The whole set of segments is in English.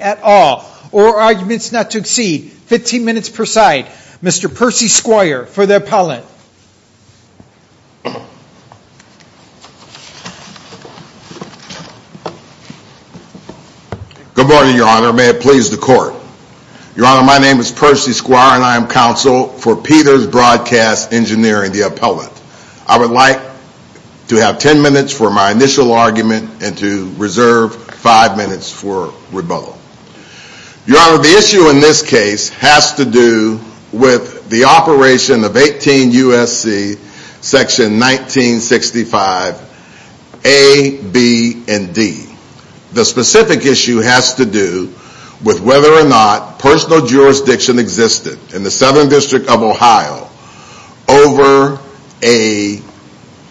at all, or arguments not to exceed 15 minutes per side. Mr. Percy Squire, for the appellant. Good morning, your honor. May it please the court. Your honor, my name is Percy Squire, counsel for Peters Broadcast Engineering, the appellant. I would like to have 10 minutes for my initial argument and to reserve 5 minutes for rebuttal. Your honor, the issue in this case has to do with the operation of 18 U.S.C. section 1965, A, B, and D. The specific issue has to do with whether or not personal jurisdiction existed in the Southern District of Ohio over a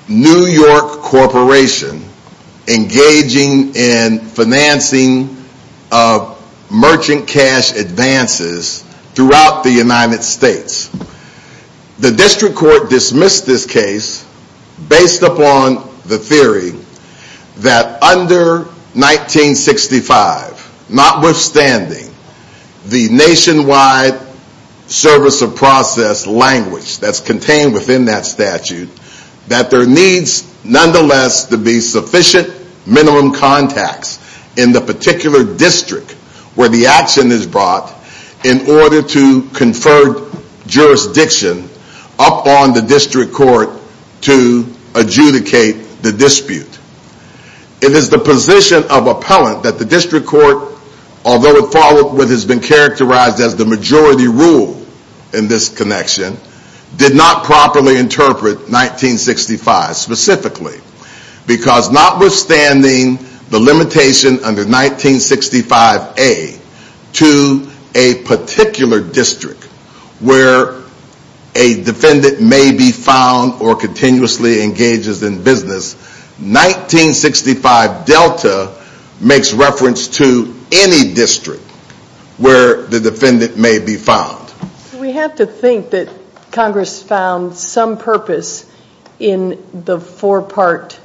New York corporation engaging in financing merchant cash advances throughout the United States. The district court dismissed this case based upon the theory that under 1965, notwithstanding the nationwide service of process language that's contained within that statute, that there needs nonetheless to be sufficient minimum contacts in the particular district where the action is brought in order to confer jurisdiction upon the district court to adjudicate the dispute. It is the position of appellant that the district court, although it has been characterized as the majority rule in this connection, did not properly interpret 1965 specifically. Because notwithstanding the limitation under 1965, A, to a particular district where a defendant may be found or continuously engages in business, 1965, Delta makes reference to any district where the defendant may be found. We have to think that Congress found some purpose in the four parts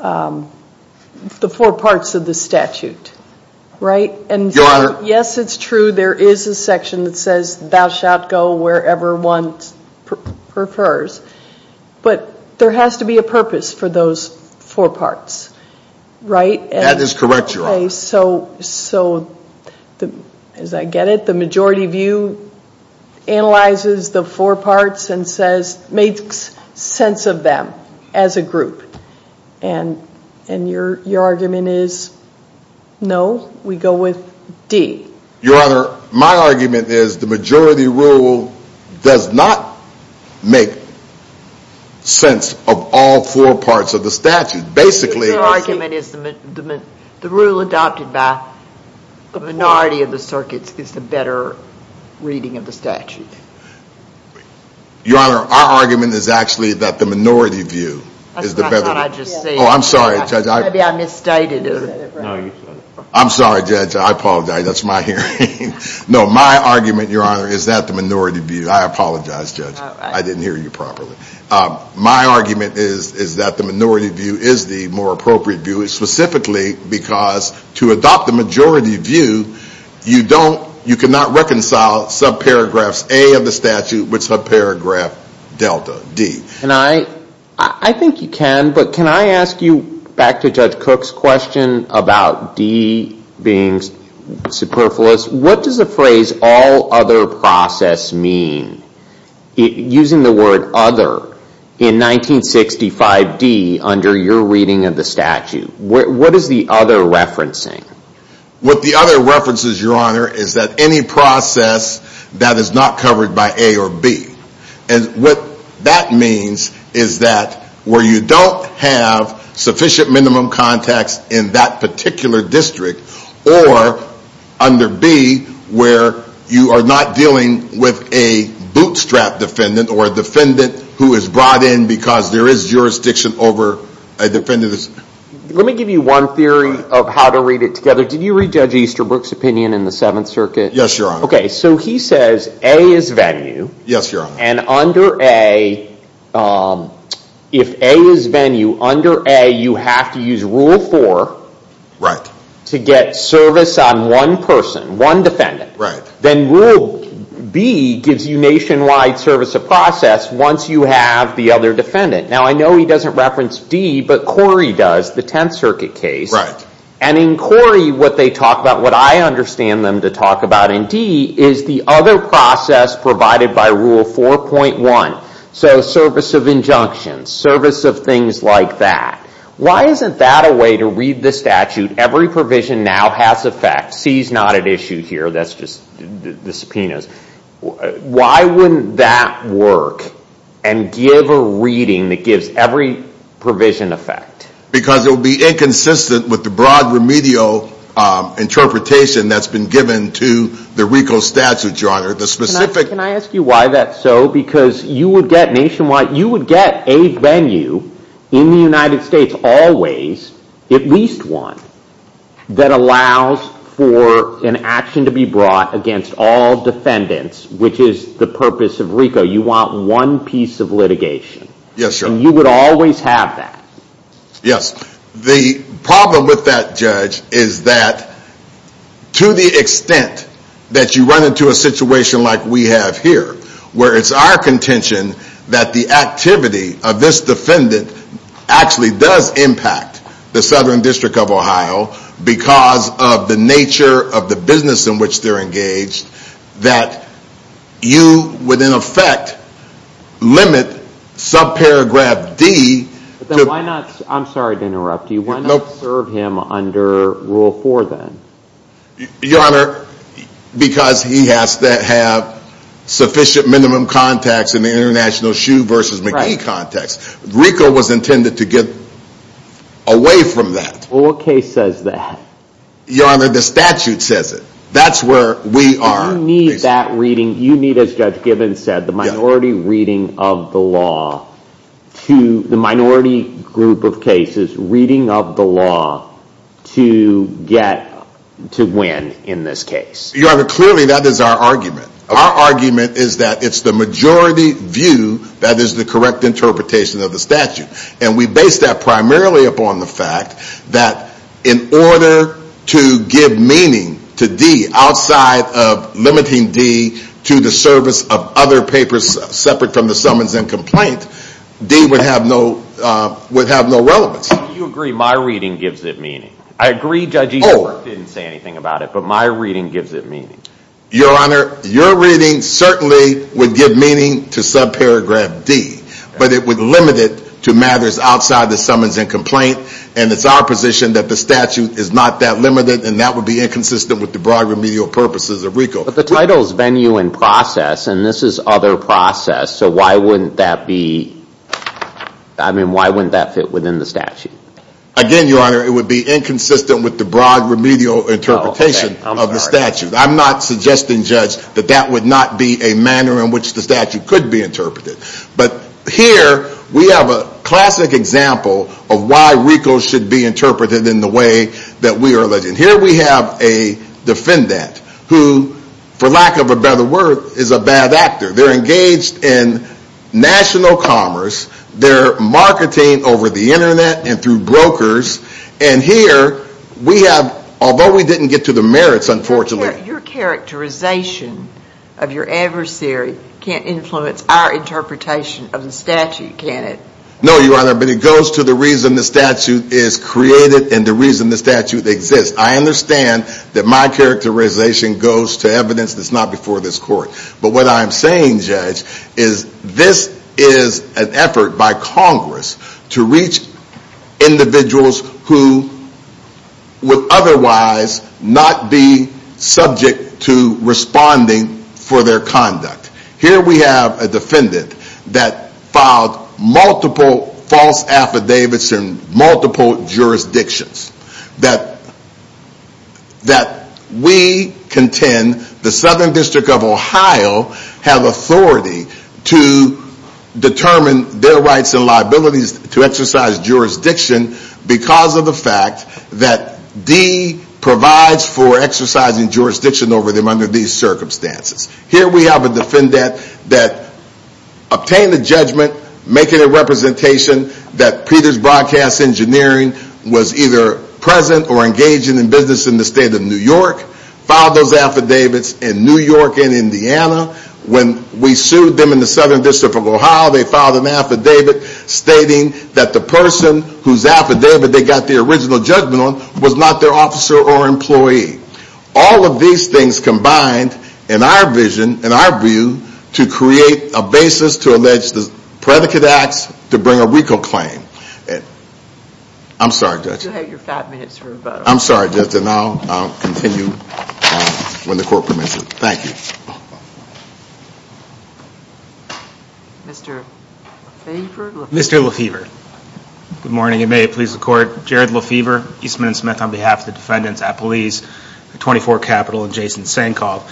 of the statute, right? Your honor. Yes, it's true there is a section that says thou shalt go wherever one prefers, but there has to be a purpose for those four parts, right? That is correct, your honor. Okay, so as I get it, the majority view analyzes the four parts and makes sense of them as a group. And your argument is, no, we go with D. Your honor, my argument is the majority rule does not make sense of all four parts of the statute. Your argument is the rule adopted by the minority of the circuits is the better reading of the statute. Your honor, our argument is actually that the minority view is the better. That's what I thought I just said. Oh, I'm sorry, judge. Maybe I misstated it. No, you said it. I'm sorry, judge. I apologize. That's my hearing. No, my argument, your honor, is that the minority view. I apologize, judge. I didn't hear you properly. My argument is that the minority view is the more appropriate view, specifically because to adopt the majority view, you cannot reconcile subparagraphs A of the statute with subparagraph delta D. I think you can, but can I ask you back to Judge Cook's question about D being superfluous? What does the phrase all other process mean using the word other in 1965D under your reading of the statute? What is the other referencing? What the other references, your honor, is that any process that is not covered by A or B. What that means is that where you don't have sufficient minimum context in that particular district or under B where you are not dealing with a bootstrap defendant or a defendant who is brought in because there is jurisdiction over a defendant. Let me give you one theory of how to read it together. Did you read Judge Easterbrook's opinion in the Seventh Circuit? Yes, your honor. Okay, so he says A is venue. Yes, your honor. And under A, if A is venue, under A you have to use Rule 4 to get service on one person, one defendant. Right. Then Rule B gives you nationwide service of process once you have the other defendant. Now I know he doesn't reference D, but Corey does, the Tenth Circuit case. Right. And in Corey, what they talk about, what I understand them to talk about in D, is the other process provided by Rule 4.1. So service of injunctions, service of things like that. Why isn't that a way to read the statute? Every provision now has effect. C is not at issue here, that's just the subpoenas. Why wouldn't that work and give a reading that gives every provision effect? Because it would be inconsistent with the broad remedial interpretation that's been given to the RICO statute, your honor. Can I ask you why that's so? Because you would get nationwide, you would get a venue in the United States always, at least one, that allows for an action to be brought against all defendants, which is the purpose of RICO. You want one piece of litigation. Yes, your honor. And you would always have that. Yes. The problem with that, Judge, is that to the extent that you run into a situation like we have here, where it's our contention that the activity of this defendant actually does impact the Southern District of Ohio because of the nature of the business in which they're engaged, that you would, in effect, limit subparagraph D. Then why not, I'm sorry to interrupt you, why not serve him under Rule 4 then? Your honor, because he has to have sufficient minimum contacts in the International Shoe versus McGee context. RICO was intended to get away from that. Well, what case says that? Your honor, the statute says it. That's where we are. You need that reading, you need, as Judge Gibbons said, the minority reading of the law, the minority group of cases reading of the law to get to win in this case. Your honor, clearly that is our argument. Our argument is that it's the majority view that is the correct interpretation of the statute. And we base that primarily upon the fact that in order to give meaning to D, outside of limiting D to the service of other papers separate from the summons and complaint, D would have no relevance. You agree my reading gives it meaning. I agree Judge Eastbrook didn't say anything about it, but my reading gives it meaning. Your honor, your reading certainly would give meaning to subparagraph D, but it would limit it to matters outside the summons and complaint, and it's our position that the statute is not that limited, and that would be inconsistent with the broad remedial purposes of RICO. But the title is venue and process, and this is other process, so why wouldn't that be, I mean, why wouldn't that fit within the statute? Again, your honor, it would be inconsistent with the broad remedial interpretation of the statute. I'm not suggesting, Judge, that that would not be a manner in which the statute could be interpreted. But here we have a classic example of why RICO should be interpreted in the way that we are alleging. Here we have a defendant who, for lack of a better word, is a bad actor. They're engaged in national commerce. They're marketing over the Internet and through brokers, and here we have, although we didn't get to the merits, unfortunately. Your characterization of your adversary can't influence our interpretation of the statute, can it? No, Your Honor, but it goes to the reason the statute is created and the reason the statute exists. I understand that my characterization goes to evidence that's not before this court, but what I'm saying, Judge, is this is an effort by Congress to reach individuals who would otherwise not be subject to responding for their conduct. Here we have a defendant that filed multiple false affidavits in multiple jurisdictions. That we contend the Southern District of Ohio have authority to determine their rights and liabilities to exercise jurisdiction because of the fact that D provides for exercising jurisdiction over them under these circumstances. Here we have a defendant that obtained a judgment making a representation that Peters Broadcast Engineering was either present or engaging in business in the state of New York, filed those affidavits in New York and Indiana. When we sued them in the Southern District of Ohio, they filed an affidavit stating that the person whose affidavit they got their original judgment on was not their officer or employee. All of these things combined in our vision, in our view, to create a basis to allege the predicate acts to bring a recall claim. I'm sorry, Judge. You have your five minutes for rebuttal. I'm sorry, Judge, and I'll continue when the court permits it. Thank you. Mr. Lefevre? Mr. Lefevre. Good morning and may it please the court. Jared Lefevre, Eastman & Smith on behalf of the defendants at Police 24 Capital and Jason Sankoff.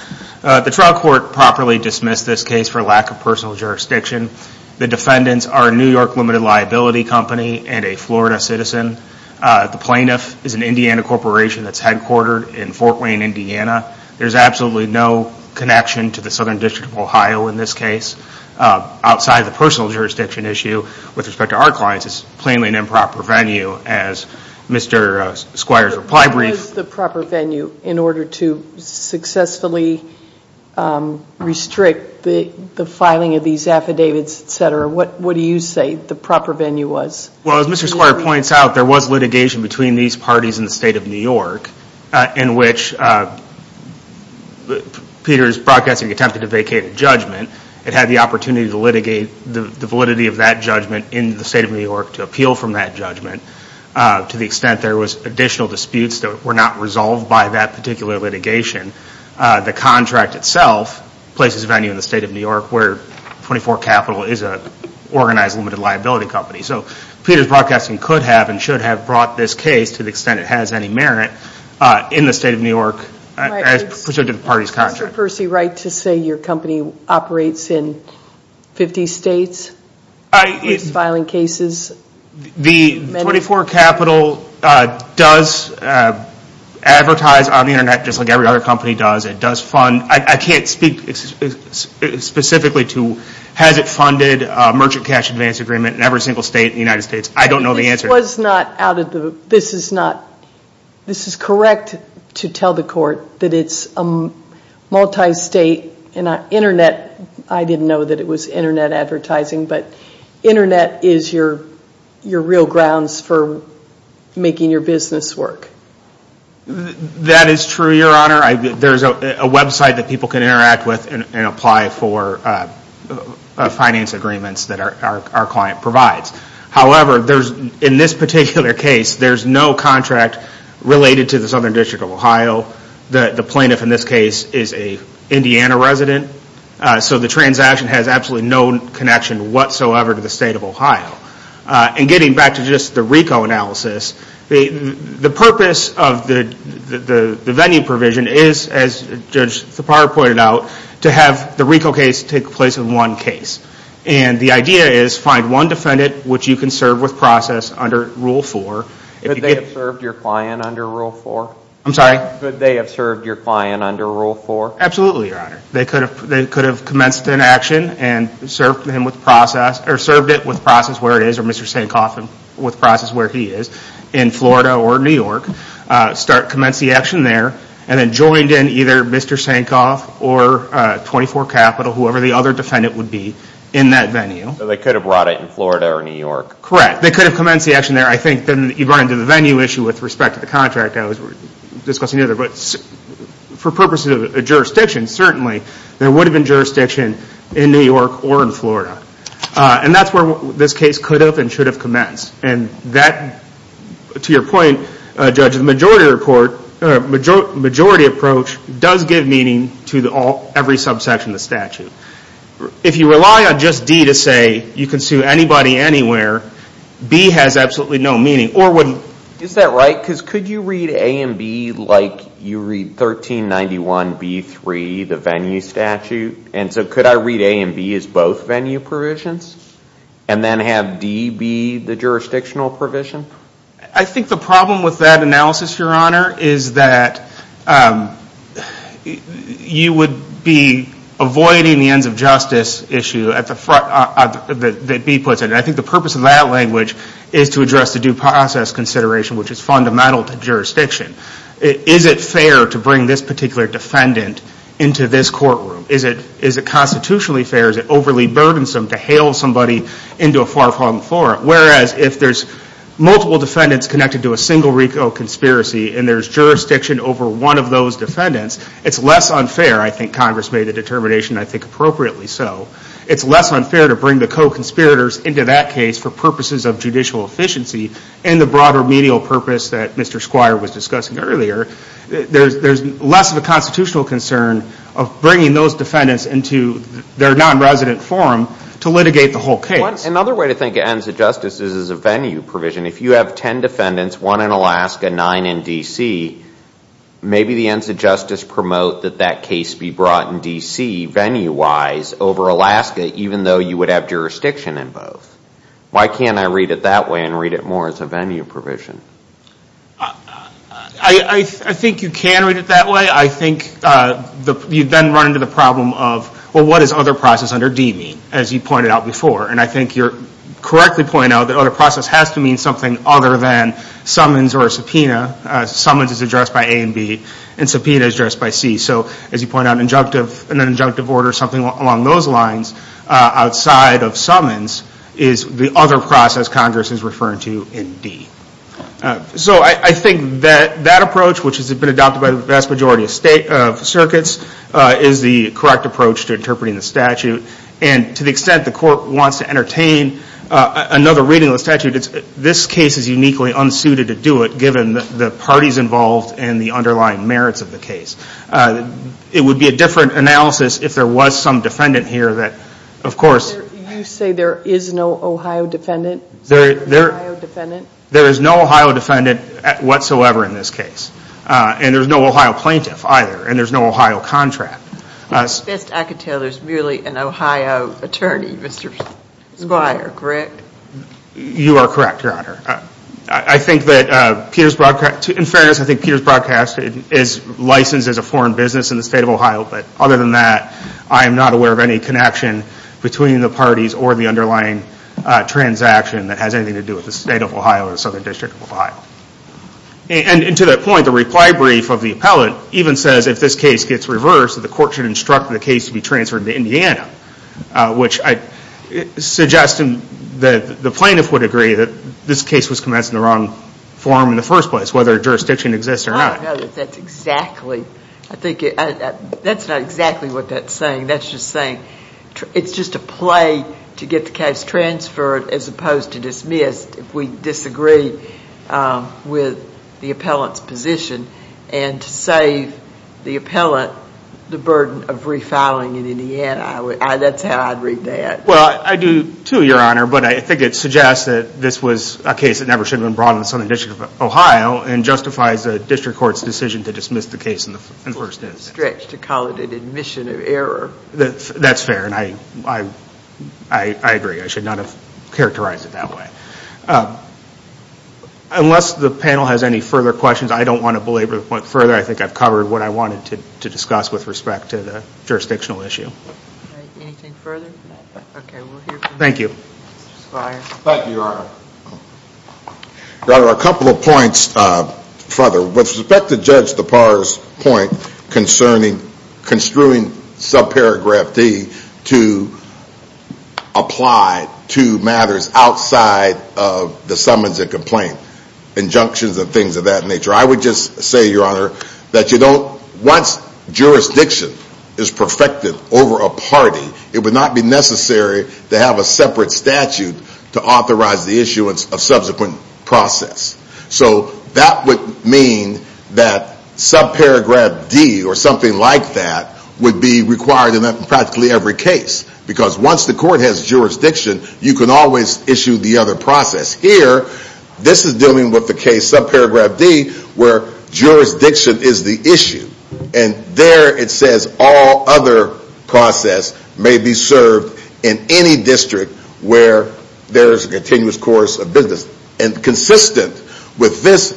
The trial court properly dismissed this case for lack of personal jurisdiction. The defendants are a New York limited liability company and a Florida citizen. The plaintiff is an Indiana corporation that's headquartered in Fort Wayne, Indiana. There's absolutely no connection to the Southern District of Ohio in this case. Outside of the personal jurisdiction issue, with respect to our clients, it's plainly an improper venue as Mr. Squire's reply brief. What was the proper venue in order to successfully restrict the filing of these affidavits, etc.? What do you say the proper venue was? Well, as Mr. Squire points out, there was litigation between these parties in the state of New York in which Peter's broadcasting attempted to vacate a judgment. It had the opportunity to litigate the validity of that judgment in the state of New York to appeal from that judgment to the extent there was additional disputes that were not resolved by that particular litigation. The contract itself places a venue in the state of New York where 24 Capital is an organized limited liability company. So Peter's broadcasting could have and should have brought this case to the extent it has any merit in the state of New York as part of the party's contract. Is Mr. Percy right to say your company operates in 50 states, filing cases? The 24 Capital does advertise on the Internet just like every other company does. It does fund – I can't speak specifically to has it funded merchant cash advance agreement in every single state in the United States. I don't know the answer. This is correct to tell the court that it's a multi-state Internet. I didn't know that it was Internet advertising, but Internet is your real grounds for making your business work. That is true, Your Honor. There's a website that people can interact with and apply for finance agreements that our client provides. However, in this particular case, there's no contract related to the Southern District of Ohio. The plaintiff in this case is an Indiana resident. So the transaction has absolutely no connection whatsoever to the state of Ohio. And getting back to just the RICO analysis, the purpose of the venue provision is, as Judge Thapar pointed out, to have the RICO case take place in one case. And the idea is find one defendant which you can serve with process under Rule 4. Could they have served your client under Rule 4? I'm sorry? Could they have served your client under Rule 4? Absolutely, Your Honor. They could have commenced an action and served him with process – or served it with process where it is or Mr. Sankoff with process where he is in Florida or New York. Commenced the action there and then joined in either Mr. Sankoff or 24 Capital, whoever the other defendant would be in that venue. So they could have brought it in Florida or New York? Correct. They could have commenced the action there. I think you run into the venue issue with respect to the contract. I was discussing the other. But for purposes of jurisdiction, certainly, there would have been jurisdiction in New York or in Florida. And that's where this case could have and should have commenced. And that, to your point, Judge, the majority approach does give meaning to every subsection of the statute. If you rely on just D to say you can sue anybody anywhere, B has absolutely no meaning. Is that right? Because could you read A and B like you read 1391B3, the venue statute? And so could I read A and B as both venue provisions and then have D be the jurisdictional provision? I think the problem with that analysis, Your Honor, is that you would be avoiding the ends of justice issue that B puts in. And I think the purpose of that language is to address the due process consideration, which is fundamental to jurisdiction. Is it fair to bring this particular defendant into this courtroom? Is it constitutionally fair? Is it overly burdensome to hail somebody into a far-flung floor? Whereas if there's multiple defendants connected to a single RICO conspiracy and there's jurisdiction over one of those defendants, it's less unfair, I think Congress made the determination I think appropriately so, it's less unfair to bring the co-conspirators into that case for purposes of judicial efficiency and the broader medial purpose that Mr. Squire was discussing earlier. There's less of a constitutional concern of bringing those defendants into their non-resident forum to litigate the whole case. Another way to think of ends of justice is as a venue provision. If you have ten defendants, one in Alaska, nine in D.C., maybe the ends of justice promote that that case be brought in D.C. venue-wise over Alaska, even though you would have jurisdiction in both. Why can't I read it that way and read it more as a venue provision? I think you can read it that way. I think you then run into the problem of, well, what does other process under D mean, as you pointed out before? And I think you correctly point out that other process has to mean something other than summons or subpoena. Summons is addressed by A and B, and subpoena is addressed by C. So as you point out, an injunctive order, something along those lines, outside of summons is the other process Congress is referring to in D. So I think that that approach, which has been adopted by the vast majority of circuits, is the correct approach to interpreting the statute. And to the extent the court wants to entertain another reading of the statute, this case is uniquely unsuited to do it, given the parties involved and the underlying merits of the case. It would be a different analysis if there was some defendant here that, of course- You say there is no Ohio defendant? There is no Ohio defendant whatsoever in this case. And there's no Ohio plaintiff either, and there's no Ohio contract. At best, I could tell there's merely an Ohio attorney, Mr. Squire, correct? You are correct, Your Honor. I think that Peter's broadcast- In fairness, I think Peter's broadcast is licensed as a foreign business in the state of Ohio, but other than that, I am not aware of any connection between the parties or the underlying transaction that has anything to do with the state of Ohio or the Southern District of Ohio. And to that point, the reply brief of the appellate even says if this case gets reversed, the court should instruct the case to be transferred to Indiana, which I suggest the plaintiff would agree that this case was commenced in the wrong form in the first place, whether a jurisdiction exists or not. I don't know that that's exactly- I think that's not exactly what that's saying. That's just saying it's just a play to get the case transferred as opposed to dismissed if we disagree with the appellant's position. And to save the appellant the burden of refiling in Indiana, that's how I'd read that. Well, I do too, Your Honor, but I think it suggests that this was a case that never should have been brought in the Southern District of Ohio and justifies the district court's decision to dismiss the case in the first instance. To call it an admission of error. That's fair, and I agree. I should not have characterized it that way. Unless the panel has any further questions, I don't want to belabor the point further. I think I've covered what I wanted to discuss with respect to the jurisdictional issue. Anything further? Thank you. Thank you, Your Honor. Your Honor, a couple of points further. With respect to Judge Depar's point concerning construing subparagraph D to apply to matters outside of the summons and complaint. Injunctions and things of that nature. I would just say, Your Honor, that once jurisdiction is perfected over a party, it would not be necessary to have a separate statute to authorize the issuance of subsequent process. So that would mean that subparagraph D or something like that would be required in practically every case. Because once the court has jurisdiction, you can always issue the other process. Here, this is dealing with the case subparagraph D where jurisdiction is the issue. And there it says all other process may be served in any district where there is a continuous course of business. And consistent with this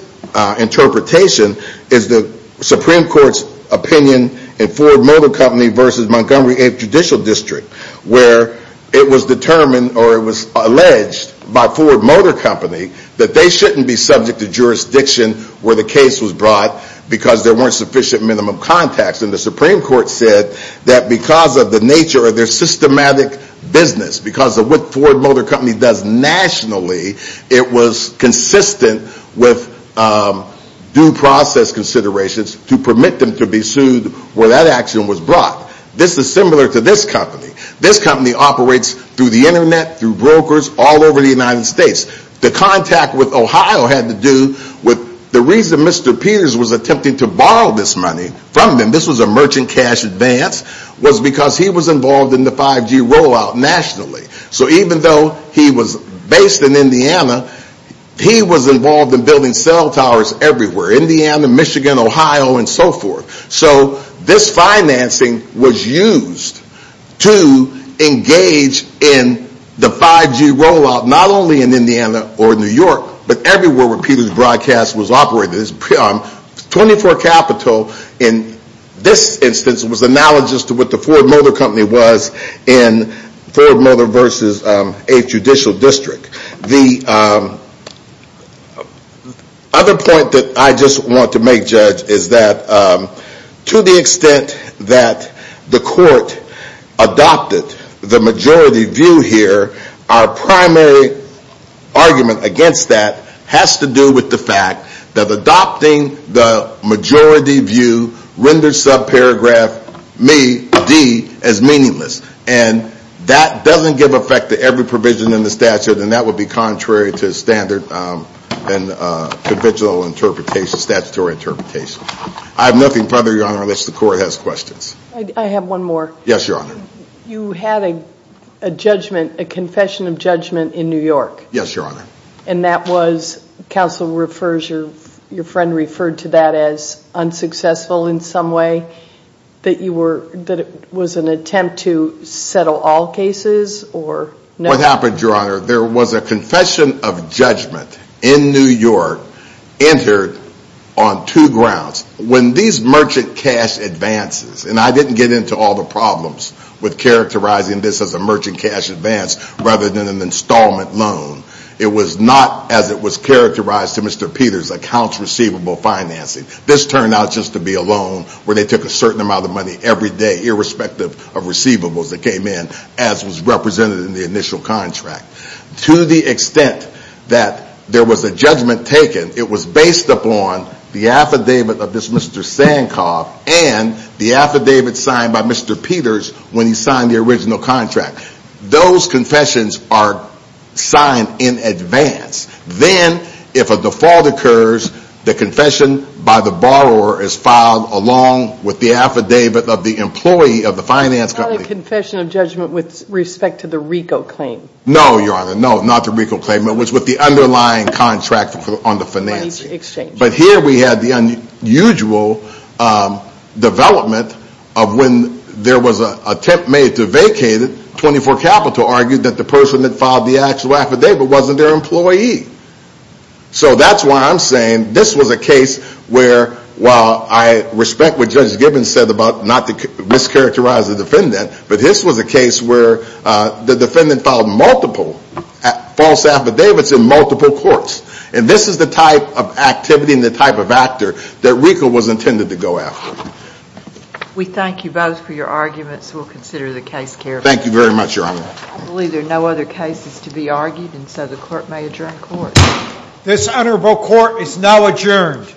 interpretation is the Supreme Court's opinion in Ford Motor Company v. Montgomery 8th Judicial District. Where it was determined or it was alleged by Ford Motor Company that they shouldn't be subject to jurisdiction where the case was brought because there weren't sufficient minimum contacts. And the Supreme Court said that because of the nature of their systematic business, because of what Ford Motor Company does nationally, it was consistent with due process considerations to permit them to be sued where that action was brought. This is similar to this company. This company operates through the internet, through brokers, all over the United States. The contact with Ohio had to do with the reason Mr. Peters was attempting to borrow this money from them, this was a merchant cash advance, was because he was involved in the 5G rollout nationally. So even though he was based in Indiana, he was involved in building cell towers everywhere. Indiana, Michigan, Ohio, and so forth. So this financing was used to engage in the 5G rollout not only in Indiana or New York, but everywhere where Peters Broadcast was operated. 24 Capital in this instance was analogous to what the Ford Motor Company was in Ford Motor versus 8th Judicial District. The other point that I just want to make, Judge, is that to the extent that the court adopted the majority view here, our primary argument against that has to do with the fact that adopting the majority view renders subparagraph D as meaningless. And that doesn't give effect to every provision in the statute, and that would be contrary to standard and conventional statutory interpretation. I have nothing further, Your Honor, unless the court has questions. I have one more. Yes, Your Honor. You had a judgment, a confession of judgment in New York. Yes, Your Honor. And that was, counsel refers, your friend referred to that as unsuccessful in some way. That you were, that it was an attempt to settle all cases or no? What happened, Your Honor, there was a confession of judgment in New York entered on two grounds. When these merchant cash advances, and I didn't get into all the problems with characterizing this as a merchant cash advance rather than an installment loan. It was not as it was characterized in Mr. Peter's accounts receivable financing. This turned out just to be a loan where they took a certain amount of money every day, irrespective of receivables that came in, as was represented in the initial contract. To the extent that there was a judgment taken, it was based upon the affidavit of this Mr. Sankoff and the affidavit signed by Mr. Peters when he signed the original contract. Those confessions are signed in advance. Then, if a default occurs, the confession by the borrower is filed along with the affidavit of the employee of the finance company. It's not a confession of judgment with respect to the RICO claim. No, Your Honor, no, not the RICO claim. It was with the underlying contract on the financing. But here we had the unusual development of when there was an attempt made to vacate it. 24 Capital argued that the person that filed the actual affidavit wasn't their employee. So that's why I'm saying this was a case where, while I respect what Judge Gibbons said about not to mischaracterize the defendant, but this was a case where the defendant filed multiple false affidavits in multiple courts. And this is the type of activity and the type of actor that RICO was intended to go after. We thank you both for your arguments. We'll consider the case carefully. Thank you very much, Your Honor. I believe there are no other cases to be argued, and so the court may adjourn court. This honorable court is now adjourned.